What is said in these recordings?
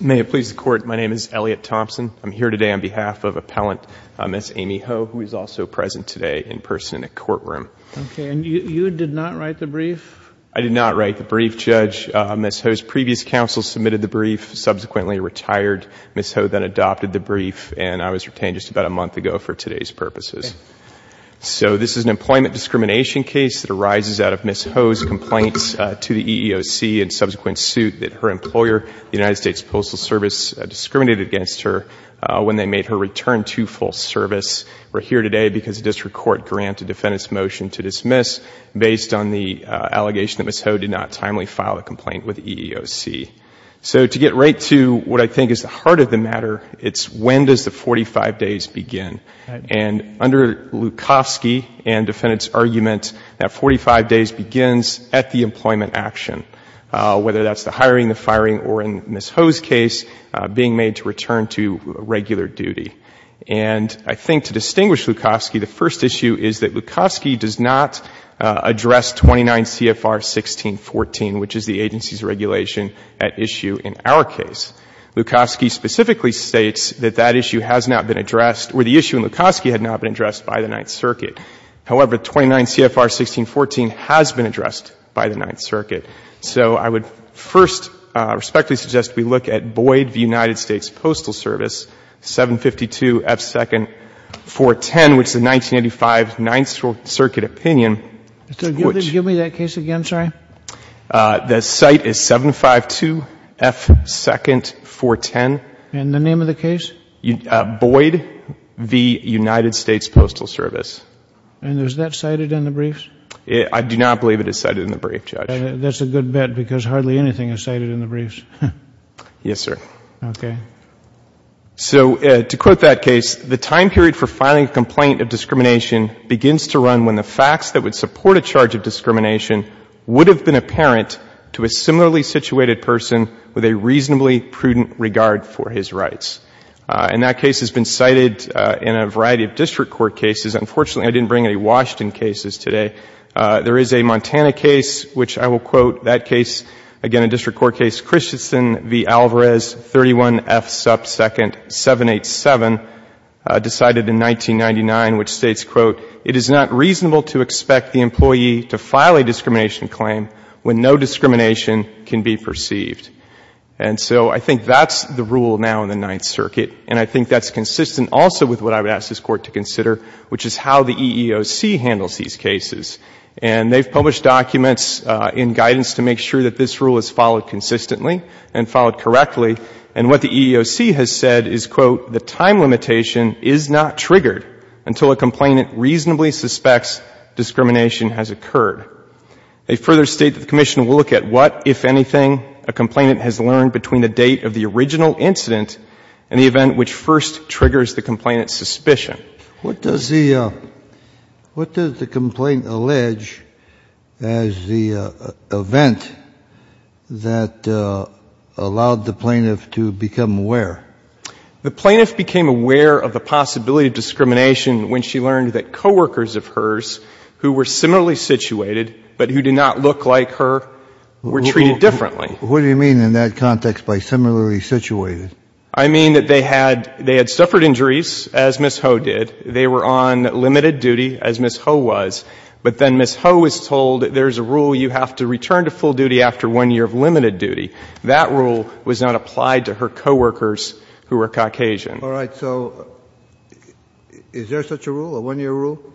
May it please the Court, my name is Elliot Thompson. I'm here today on behalf of Appellant Ms. Amy Ho, who is also present today in person in the courtroom. Okay, and you did not write the brief? I did not write the brief, Judge. Ms. Ho's previous counsel submitted the brief, subsequently retired Ms. Ho, then adopted the brief, and I was retained just about a month ago for today's purposes. So, this is an employment discrimination case that arises out of Ms. Ho's complaints to the EEOC in subsequent suit that her employer, the United States Postal Service, discriminated against her when they made her return to full service. We're here today because the District Court granted the defendant's motion to dismiss based on the allegation that Ms. Ho did not timely file a complaint with the EEOC. So, to get right to what I think is the heart of the matter, it's when does the 45 days begin? And under Lukofsky and defendant's argument, that 45 days begins at the employment action, whether that's the hiring, the firing, or in Ms. Ho's case, being made to return to regular duty. And I think to distinguish Lukofsky, the first issue is that Lukofsky does not address 29 CFR 1614, which is the agency's regulation at issue in our case. Lukofsky specifically states that that issue has not been addressed, or the issue in Lukofsky had not been addressed by the Ninth Circuit. However, 29 CFR 1614 has been addressed by the Ninth Circuit. So, I would first respectfully suggest we look at Boyd v. United States Postal Service, 752 F. 2nd 410, which is the 1985 Ninth Circuit opinion. Mr. Gifford, give me that case again. I'm sorry. The site is 752 F. 2nd 410. And the name of the case? Boyd v. United States Postal Service. And is that cited in the briefs? I do not believe it is cited in the briefs, Judge. That's a good bet, because hardly anything is cited in the briefs. Yes, sir. Okay. So, to quote that case, the time period for filing a complaint of discrimination begins to run when the facts that would support a charge of discrimination would have been apparent to a similarly situated person with a reasonably prudent regard for his rights. And that case has been cited in a variety of district court cases. Unfortunately, I didn't bring any Washington cases today. There is a Montana case, which I will quote. That case, again, a district court case, Christensen v. Alvarez, 31 F. 2nd 787, decided in 1999, which states, quote, it is not reasonable to expect the employee to file a discrimination claim when no discrimination can be perceived. And so I think that's the rule now in the Ninth Circuit. And I think that's consistent also with what I would ask this Court to consider, which is how the EEOC handles these cases. And they've published documents in guidance to make sure that this rule is followed consistently and followed correctly. And what the EEOC has said is, quote, the time limitation is not triggered until a complainant reasonably suspects discrimination has occurred. They further state that the Commission will look at what, if anything, a complainant has learned between the date of the original incident and the event which first triggers the complainant's suspicion. Kennedy. What does the complaint allege as the event that allowed the plaintiff to become aware? The plaintiff became aware of the possibility of discrimination when she learned that coworkers of hers who were similarly situated but who did not look like her were treated differently. What do you mean in that context by similarly situated? I mean that they had suffered injuries, as Ms. Ho did. They were on limited duty, as Ms. Ho was. But then Ms. Ho was told there's a rule you have to return to full duty after one year of limited duty. That rule was not applied to her coworkers who were Caucasian. All right. So is there such a rule, a one-year rule?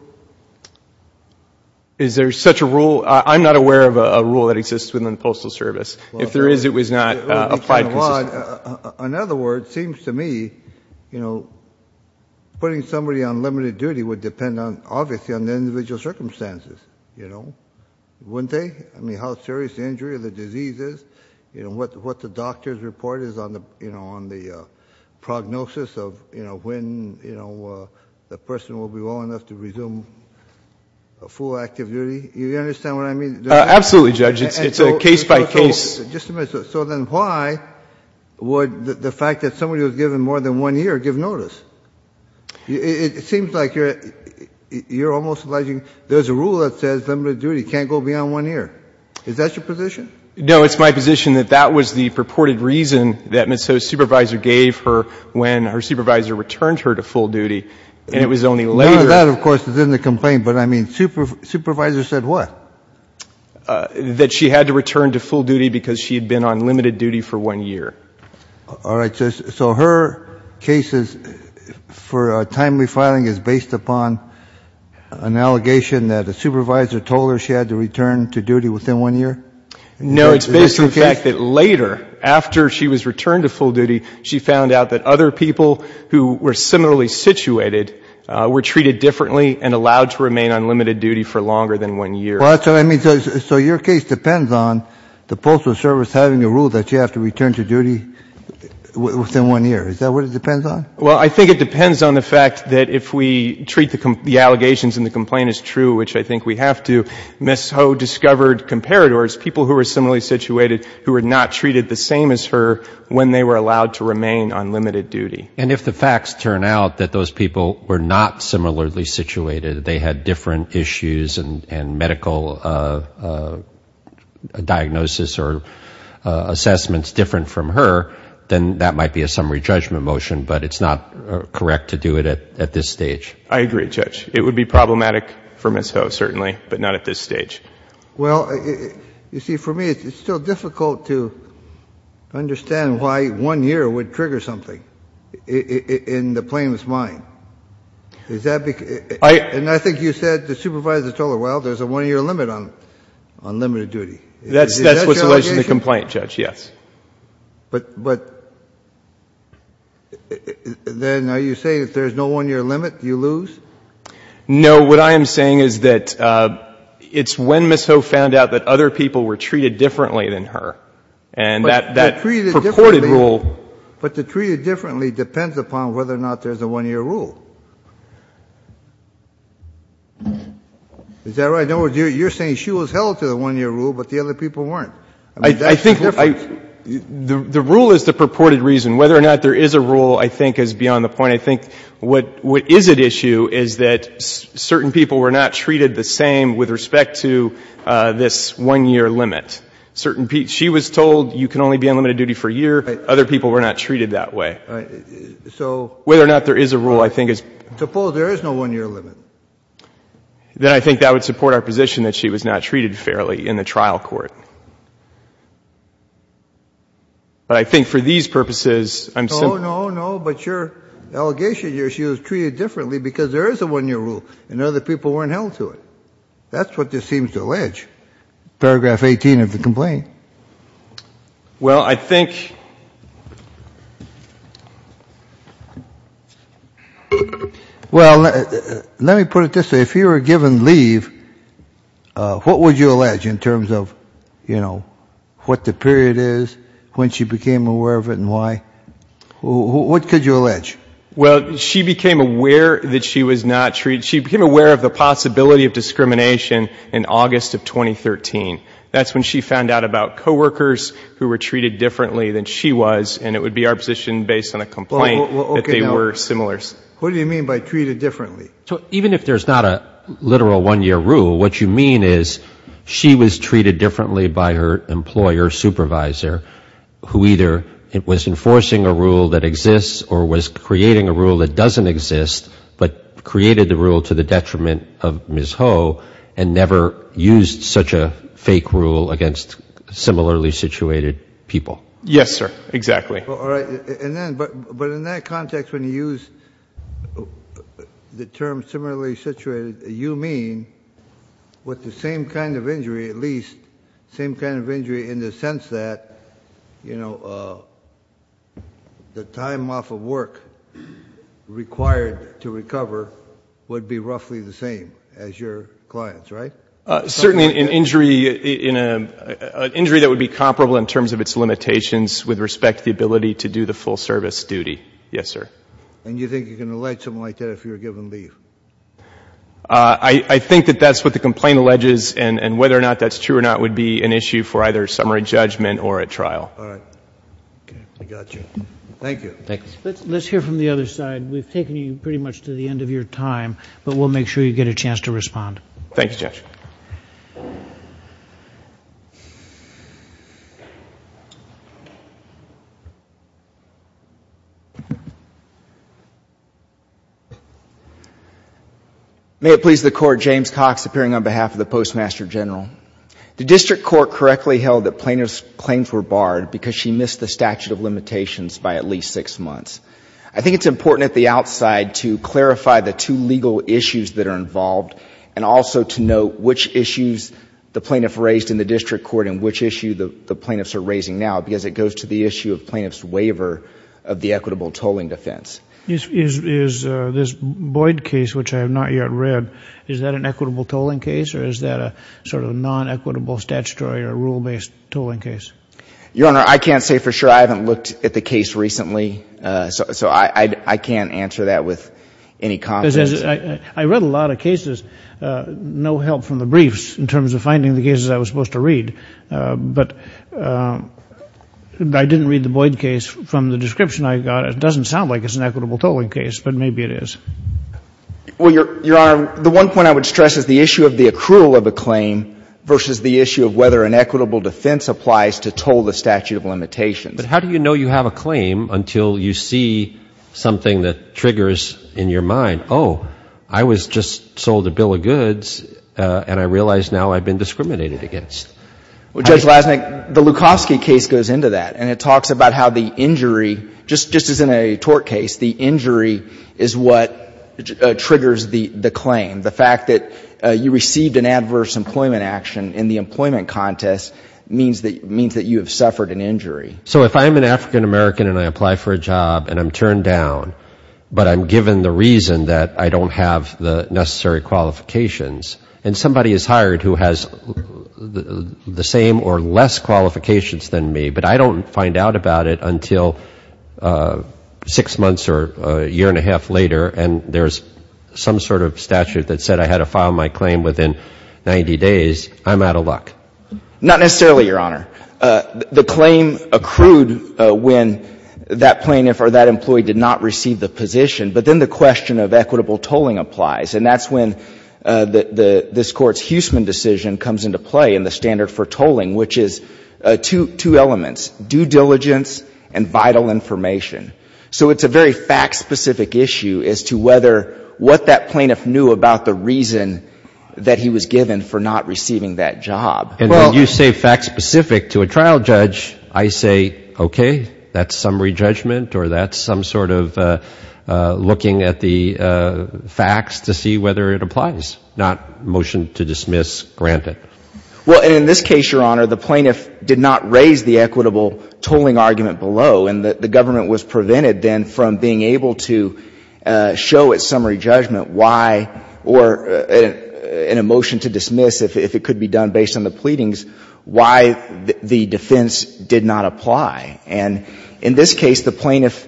Is there such a rule? I'm not aware of a rule that exists within the Postal Service. If there is, it was not applied consistently. In other words, it seems to me putting somebody on limited duty would depend obviously on the individual circumstances. Wouldn't they? I mean how serious the injury or the disease is. What the doctors report is on the prognosis of when the person will be well enough to resume full active duty. Do you understand what I mean? Absolutely, Judge. It's case by case. Just a minute. So then why would the fact that somebody was given more than one year give notice? It seems like you're almost alleging there's a rule that says limited duty can't go beyond one year. Is that your position? No. It's my position that that was the purported reason that Ms. Ho's supervisor gave her when her supervisor returned her to full duty. And it was only later. That, of course, is in the complaint. But, I mean, supervisor said what? That she had to return to full duty because she had been on limited duty for one year. All right. So her cases for timely filing is based upon an allegation that a supervisor told her she had to return to duty within one year? No, it's based on the fact that later, after she was returned to full duty, she found out that other people who were similarly situated were treated differently and allowed to remain on limited duty for longer than one year. So your case depends on the Postal Service having a rule that you have to return to duty within one year. Is that what it depends on? Well, I think it depends on the fact that if we treat the allegations in the complaint as true, which I think we have to, Ms. Ho discovered comparators, people who were similarly situated, who were not treated the same as her when they were allowed to remain on limited duty. And if the facts turn out that those people were not similarly situated, they had different issues and medical diagnosis or assessments different from her, then that might be a summary judgment motion, but it's not correct to do it at this stage. I agree, Judge. It would be problematic for Ms. Ho, certainly, but not at this stage. Well, you see, for me, it's still difficult to understand why one year would trigger something in the plaintiff's mind. And I think you said the supervisor told her, well, there's a one-year limit on limited duty. That's what's related to the complaint, Judge, yes. But then are you saying if there's no one-year limit, you lose? No. What I am saying is that it's when Ms. Ho found out that other people were treated differently than her, and that purported rule But to treat it differently depends upon whether or not there's a one-year rule. Is that right? In other words, you're saying she was held to the one-year rule, but the other people weren't. I think the rule is the purported reason. Whether or not there is a rule, I think, is beyond the point. I think what is at issue is that certain people were not treated the same with respect to this one-year limit. She was told you can only be on limited duty for a year. Other people were not treated that way. Whether or not there is a rule, I think, is — Suppose there is no one-year limit. Then I think that would support our position that she was not treated fairly in the trial court. But I think for these purposes, I'm — No, no, no, but your allegation is she was treated differently because there is a one-year rule, and other people weren't held to it. That's what this seems to allege. Paragraph 18 of the complaint. Well, I think — Well, let me put it this way. If you were given leave, what would you allege in terms of, you know, what the period is, when she became aware of it, and why? What could you allege? Well, she became aware that she was not treated — she became aware of the possibility of discrimination in August of 2013. That's when she found out about coworkers who were treated differently than she was, and it would be our position, based on a complaint, that they were similar. What do you mean by treated differently? Even if there's not a literal one-year rule, what you mean is she was treated differently by her employer supervisor, who either was enforcing a rule that exists or was creating a rule that doesn't exist, but created the rule to the detriment of Ms. Ho, and never used such a fake rule against similarly situated people. Yes, sir, exactly. All right. But in that context, when you use the term similarly situated, you mean with the same kind of injury, at least, same kind of injury in the sense that, you know, the time off of work required to recover would be roughly the same as your client's, right? Certainly an injury that would be comparable in terms of its limitations with respect to the ability to do the full service duty, yes, sir. And you think you can allege something like that if you're given leave? I think that that's what the complaint alleges, and whether or not that's true or not would be an issue for either summary judgment or a trial. All right. I got you. Thank you. Let's hear from the other side. We've taken you pretty much to the end of your time, but we'll make sure you get a chance to respond. Thanks, Judge. May it please the Court, James Cox, appearing on behalf of the Postmaster General. The District Court correctly held that plaintiff's claims were barred because she missed the statute of limitations by at least six months. I think it's important at the outside to clarify the two legal issues that are involved and also to note which issues the plaintiff raised in the District Court and which issue the plaintiffs are raising now, because it goes to the issue of plaintiff's waiver of the equitable tolling defense. Is this Boyd case, which I have not yet read, is that an equitable tolling case or is that a sort of non-equitable statutory or rule-based tolling case? Your Honor, I can't say for sure. I haven't looked at the case recently, so I can't answer that with any confidence. I read a lot of cases. No help from the briefs in terms of finding the cases I was supposed to read, but I didn't read the Boyd case from the description I got. It doesn't sound like it's an equitable tolling case, but maybe it is. Well, Your Honor, the one point I would stress is the issue of the accrual of a claim versus the issue of whether an equitable defense applies to toll the statute of limitations. But how do you know you have a claim until you see something that triggers in your mind, oh, I was just sold a bill of goods, and I realize now I've been discriminated against? Well, Judge Lasnik, the Lukowski case goes into that, and it talks about how the injury, just as in a tort case, the injury is what triggers the claim. The fact that you received an adverse employment action in the employment contest means that you have suffered an injury. So if I'm an African American and I apply for a job and I'm turned down, but I'm given the reason that I don't have the necessary qualifications, and somebody is hired who has the same or less qualifications than me, but I don't find out about it until six months or a year and a half later, and there's some sort of statute that said I had to file my claim within 90 days, I'm out of luck. Not necessarily, Your Honor. The claim accrued when that plaintiff or that employee did not receive the position, but then the question of equitable tolling applies. And that's when this Court's Huseman decision comes into play in the standard for tolling, which is two elements, due diligence and vital information. So it's a very fact-specific issue as to whether what that plaintiff knew about the reason that he was given for not receiving that job. And when you say fact-specific to a trial judge, I say, okay, that's some rejudgment or that's some sort of looking at the facts to see whether it applies, not motion to dismiss, grant it. Well, and in this case, Your Honor, the plaintiff did not raise the equitable tolling argument below, and the government was prevented then from being able to show at summary judgment why, or in a motion to dismiss if it could be done based on the pleadings, why the defense did not apply. And in this case, the plaintiff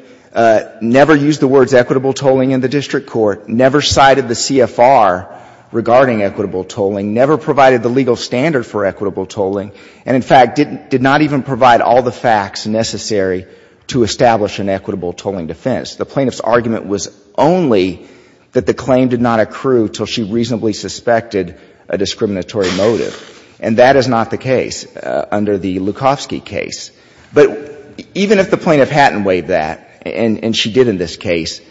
never used the words equitable tolling in the district court, never cited the CFR regarding equitable tolling, never provided the legal standard for equitable tolling, and, in fact, did not even provide all the facts necessary to establish an equitable tolling defense. The plaintiff's argument was only that the claim did not accrue until she reasonably suspected a discriminatory motive. And that is not the case under the Lukowski case. But even if the plaintiff hadn't waived that, and she did in this case,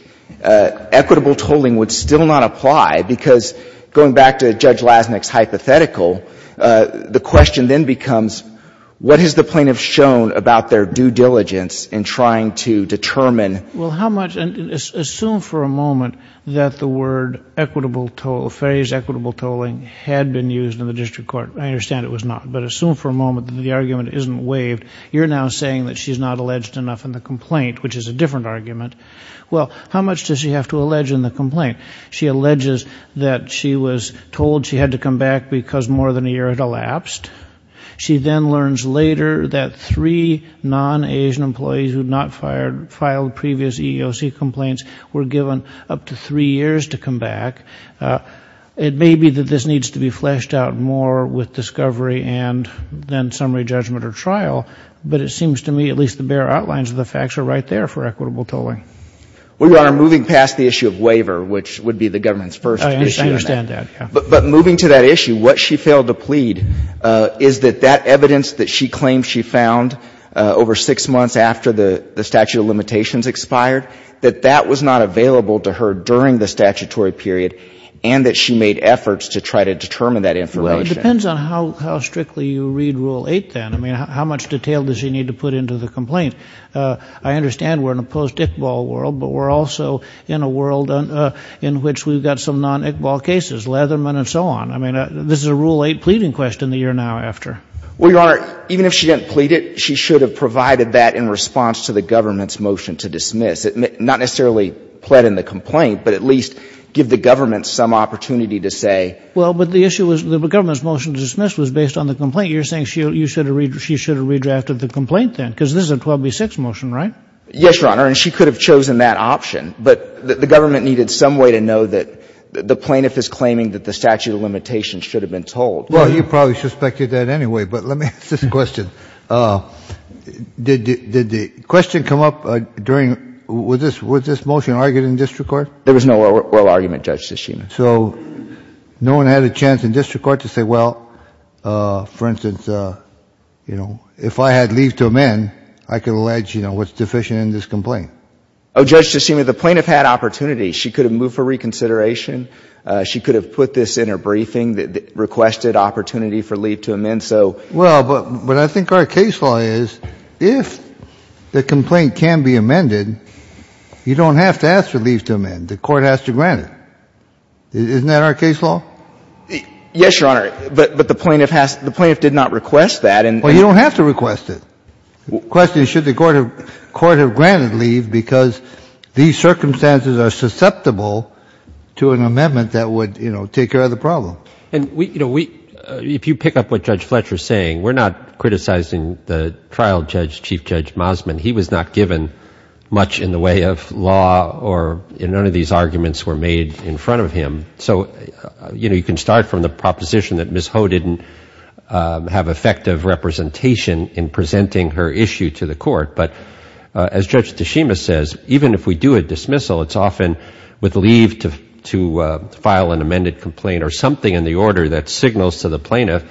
equitable tolling would still not apply because, going back to Judge Lasnik's hypothetical, the question then becomes, what has the plaintiff shown about their due diligence in trying to determine? Well, how much, and assume for a moment that the word equitable toll, phrase equitable tolling, had been used in the district court. I understand it was not. But assume for a moment that the argument isn't waived. You're now saying that she's not alleged enough in the complaint, which is a different argument. Well, how much does she have to allege in the complaint? She alleges that she was told she had to come back because more than a year had elapsed. She then learns later that three non-Asian employees who had not filed previous EEOC complaints were given up to three years to come back. It may be that this needs to be fleshed out more with discovery and then summary judgment or trial, but it seems to me at least the bare outlines of the facts are right there for equitable tolling. Well, Your Honor, moving past the issue of waiver, which would be the government's first concern. I understand that, yeah. But moving to that issue, what she failed to plead is that that evidence that she claimed she found over six months after the statute of limitations expired, that that was not a statutory period, and that she made efforts to try to determine that information. Well, it depends on how strictly you read Rule 8 then. I mean, how much detail does she need to put into the complaint? I understand we're in a post-Iqbal world, but we're also in a world in which we've got some non-Iqbal cases, Leatherman and so on. I mean, this is a Rule 8 pleading question the year now after. Well, Your Honor, even if she didn't plead it, she should have provided that in response to the government's motion to dismiss. Not necessarily plead in the complaint, but at least give the government some opportunity to say. Well, but the issue was the government's motion to dismiss was based on the complaint. You're saying she should have redrafted the complaint then, because this is a 12b-6 motion, right? Yes, Your Honor, and she could have chosen that option. But the government needed some way to know that the plaintiff is claiming that the statute of limitations should have been told. Well, you probably suspected that anyway, but let me ask this question. Did the question come up during — was this motion argued in district court? There was no oral argument, Judge Tshishima. So no one had a chance in district court to say, well, for instance, you know, if I had leave to amend, I could allege, you know, what's deficient in this complaint? Oh, Judge Tshishima, the plaintiff had opportunity. She could have moved for reconsideration. She could have put this in her briefing, requested opportunity for leave to amend. Well, but I think our case law is if the complaint can be amended, you don't have to ask for leave to amend. The court has to grant it. Isn't that our case law? Yes, Your Honor, but the plaintiff did not request that. Well, you don't have to request it. The question is should the court have granted leave, because these circumstances are susceptible to an amendment that would, you know, take care of the problem. And, you know, if you pick up what Judge Fletcher is saying, we're not criticizing the trial judge, Chief Judge Mosman. He was not given much in the way of law or none of these arguments were made in front of him. So, you know, you can start from the proposition that Ms. Ho didn't have effective representation in presenting her issue to the court. But as Judge Tshishima says, even if we do a dismissal, it's often with leave to file an amended complaint or something in the order that signals to the plaintiff,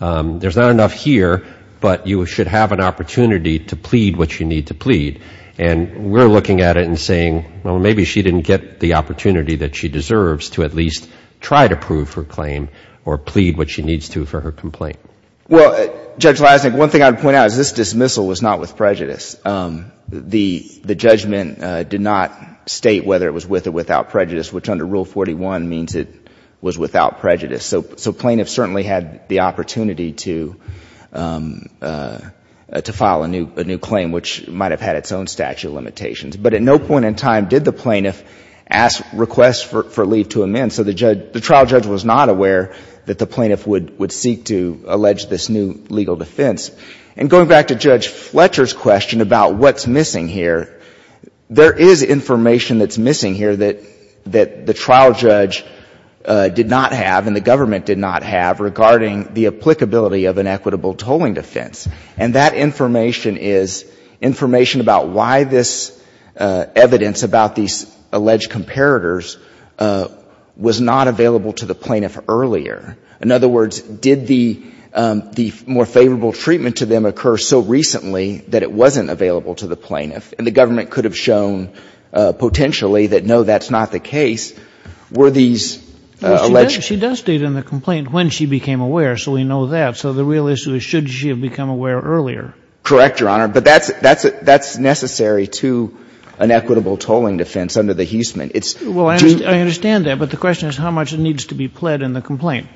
there's not enough here, but you should have an opportunity to plead what you need to plead. And we're looking at it and saying, well, maybe she didn't get the opportunity that she deserves to at least try to prove her claim or plead what she needs to for her complaint. Well, Judge Leisnick, one thing I would point out is this dismissal was not with prejudice. The judgment did not state whether it was with or without prejudice, which under Rule 41 means it was without prejudice. So plaintiffs certainly had the opportunity to file a new claim, which might have had its own statute of limitations. But at no point in time did the plaintiff ask requests for leave to amend. So the trial judge was not aware that the plaintiff would seek to allege this new legal defense. And going back to Judge Fletcher's question about what's missing here, there is information that's missing here that the trial judge did not have and the government did not have regarding the applicability of an equitable tolling defense. And that information is information about why this evidence about these alleged comparators was not available to the plaintiff earlier. In other words, did the more favorable treatment to them occur so recently that it wasn't available to the plaintiff? And the government could have shown potentially that, no, that's not the case. Were these alleged? She does state in the complaint when she became aware, so we know that. So the real issue is should she have become aware earlier? Correct, Your Honor. But that's necessary to an equitable tolling defense under the Huseman. Well, I understand that. But the question is how much needs to be pled in the complaint.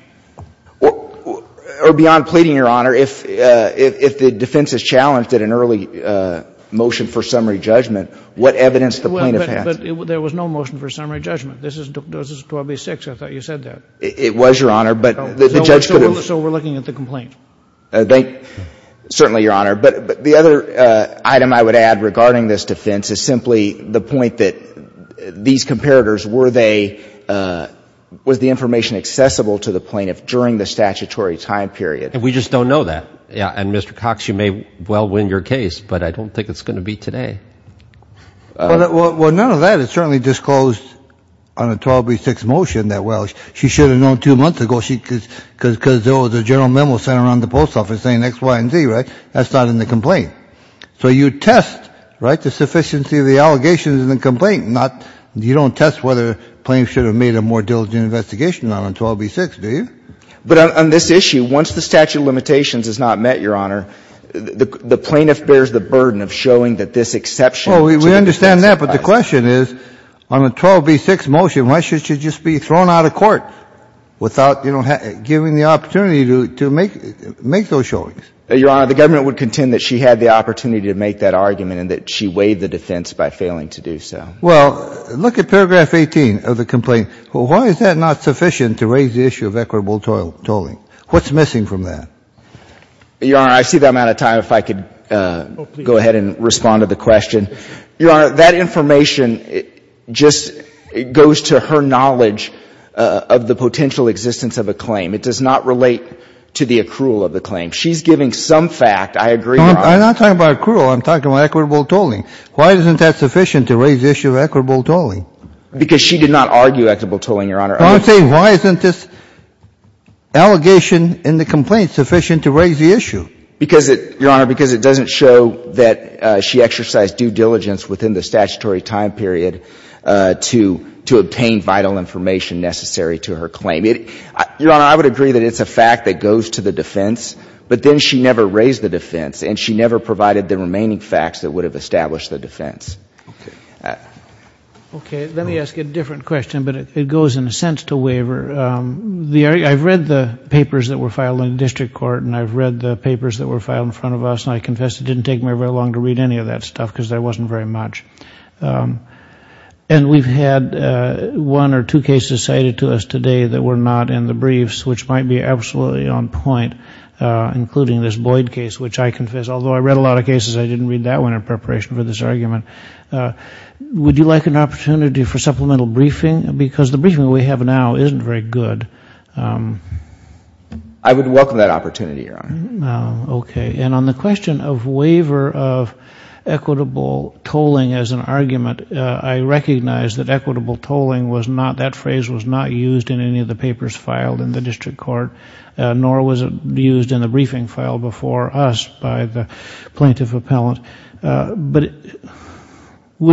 Or beyond pleading, Your Honor, if the defense is challenged at an early motion for summary judgment, what evidence the plaintiff has? Well, but there was no motion for summary judgment. This is 1286. I thought you said that. It was, Your Honor. So we're looking at the complaint. Certainly, Your Honor. But the other item I would add regarding this defense is simply the point that these comparators, were they, was the information accessible to the plaintiff during the statutory time period? And we just don't know that. Yeah. And, Mr. Cox, you may well win your case, but I don't think it's going to be today. Well, none of that is certainly disclosed on a 1286 motion that well. She should have known two months ago because there was a general memo sent around the post office saying X, Y, and Z, right? That's not in the complaint. So you test, right, the sufficiency of the allegations in the complaint, not you don't test whether plaintiffs should have made a more diligent investigation on a 1286, do you? But on this issue, once the statute of limitations is not met, Your Honor, the plaintiff bears the burden of showing that this exception. Well, we understand that. But the question is, on a 1286 motion, why should she just be thrown out of court without, you know, giving the opportunity to make those showings? Your Honor, the government would contend that she had the opportunity to make that argument and that she weighed the defense by failing to do so. Well, look at paragraph 18 of the complaint. Why is that not sufficient to raise the issue of equitable tolling? What's missing from that? Your Honor, I see that I'm out of time. If I could go ahead and respond to the question. Your Honor, that information just goes to her knowledge of the potential existence of a claim. It does not relate to the accrual of the claim. She's giving some fact. I agree, Your Honor. I'm not talking about accrual. I'm talking about equitable tolling. Why isn't that sufficient to raise the issue of equitable tolling? Because she did not argue equitable tolling, Your Honor. I'm saying why isn't this allegation in the complaint sufficient to raise the issue? Because it, Your Honor, because it doesn't show that she exercised due diligence within the statutory time period to obtain vital information necessary to her claim. Your Honor, I would agree that it's a fact that goes to the defense, but then she never raised the defense and she never provided the remaining facts that would have established the defense. Okay. Let me ask a different question, but it goes in a sense to waiver. I've read the papers that were filed in the district court and I've read the papers that were filed in front of us and I confess it didn't take me very long to read any of that stuff because there wasn't very much. And we've had one or two cases cited to us today that were not in the briefs, which might be absolutely on point, including this Boyd case, which I confess, although I read a lot of cases, I didn't read that one in preparation for this argument. Would you like an opportunity for supplemental briefing? Because the briefing we have now isn't very good. I would welcome that opportunity, Your Honor. Okay. And on the question of waiver of equitable tolling as an argument, I recognize that equitable tolling was not, that phrase was not used in any of the papers filed in the district court, nor was it used in the briefing filed before us by the plaintiff appellant. But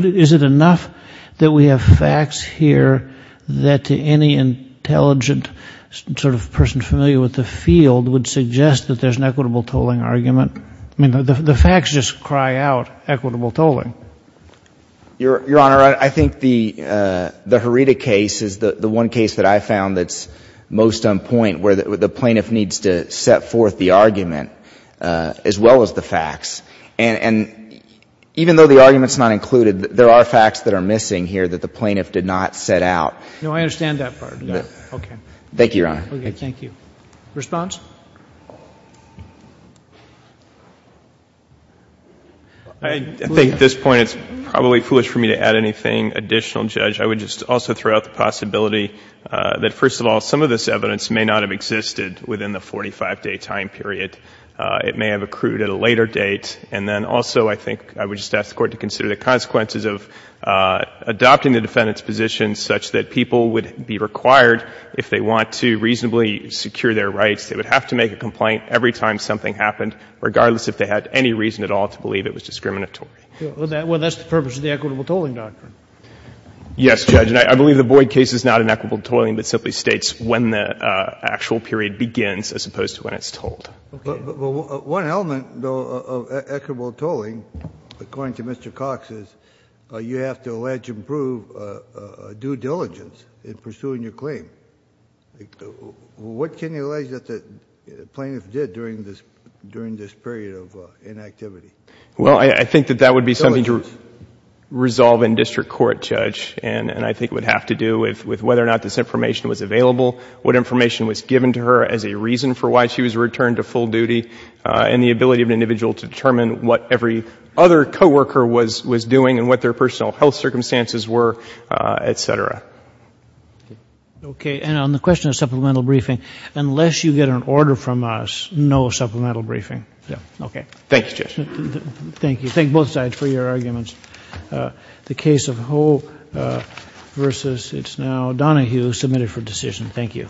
is it enough that we have facts here that to any intelligent sort of person familiar with the field would suggest that there's an equitable tolling argument? I mean, the facts just cry out equitable tolling. Your Honor, I think the Herita case is the one case that I found that's most on point where the plaintiff needs to set forth the argument as well as the facts. And even though the argument's not included, there are facts that are missing here that the plaintiff did not set out. No, I understand that part. Okay. Thank you, Your Honor. Okay, thank you. Response? I think at this point it's probably foolish for me to add anything additional, Judge. I would just also throw out the possibility that, first of all, some of this evidence may not have existed within the 45-day time period. It may have accrued at a later date. And then also I think I would just ask the Court to consider the consequences of adopting the defendant's position such that people would be required, if they want to reasonably secure their rights, they would have to make a complaint every time something happened, regardless if they had any reason at all to believe it was discriminatory. Well, that's the purpose of the equitable tolling doctrine. Yes, Judge. And I believe the Boyd case is not an equitable tolling, but simply states when the actual period begins as opposed to when it's tolled. Okay. Well, one element, though, of equitable tolling, according to Mr. Cox, is you have to allege and prove due diligence in pursuing your claim. What can you allege that the plaintiff did during this period of inactivity? Well, I think that that would be something to resolve in district court, Judge, and I think it would have to do with whether or not this information was available, what information was given to her as a reason for why she was returned to full duty, and the ability of an individual to determine what every other co-worker was doing and what their personal health circumstances were, et cetera. Okay. And on the question of supplemental briefing, unless you get an order from us, no supplemental briefing. Okay. Thank you, Judge. Thank you. Thank both sides for your arguments. The case of Ho versus it's now Donahue, submitted for decision. Thank you.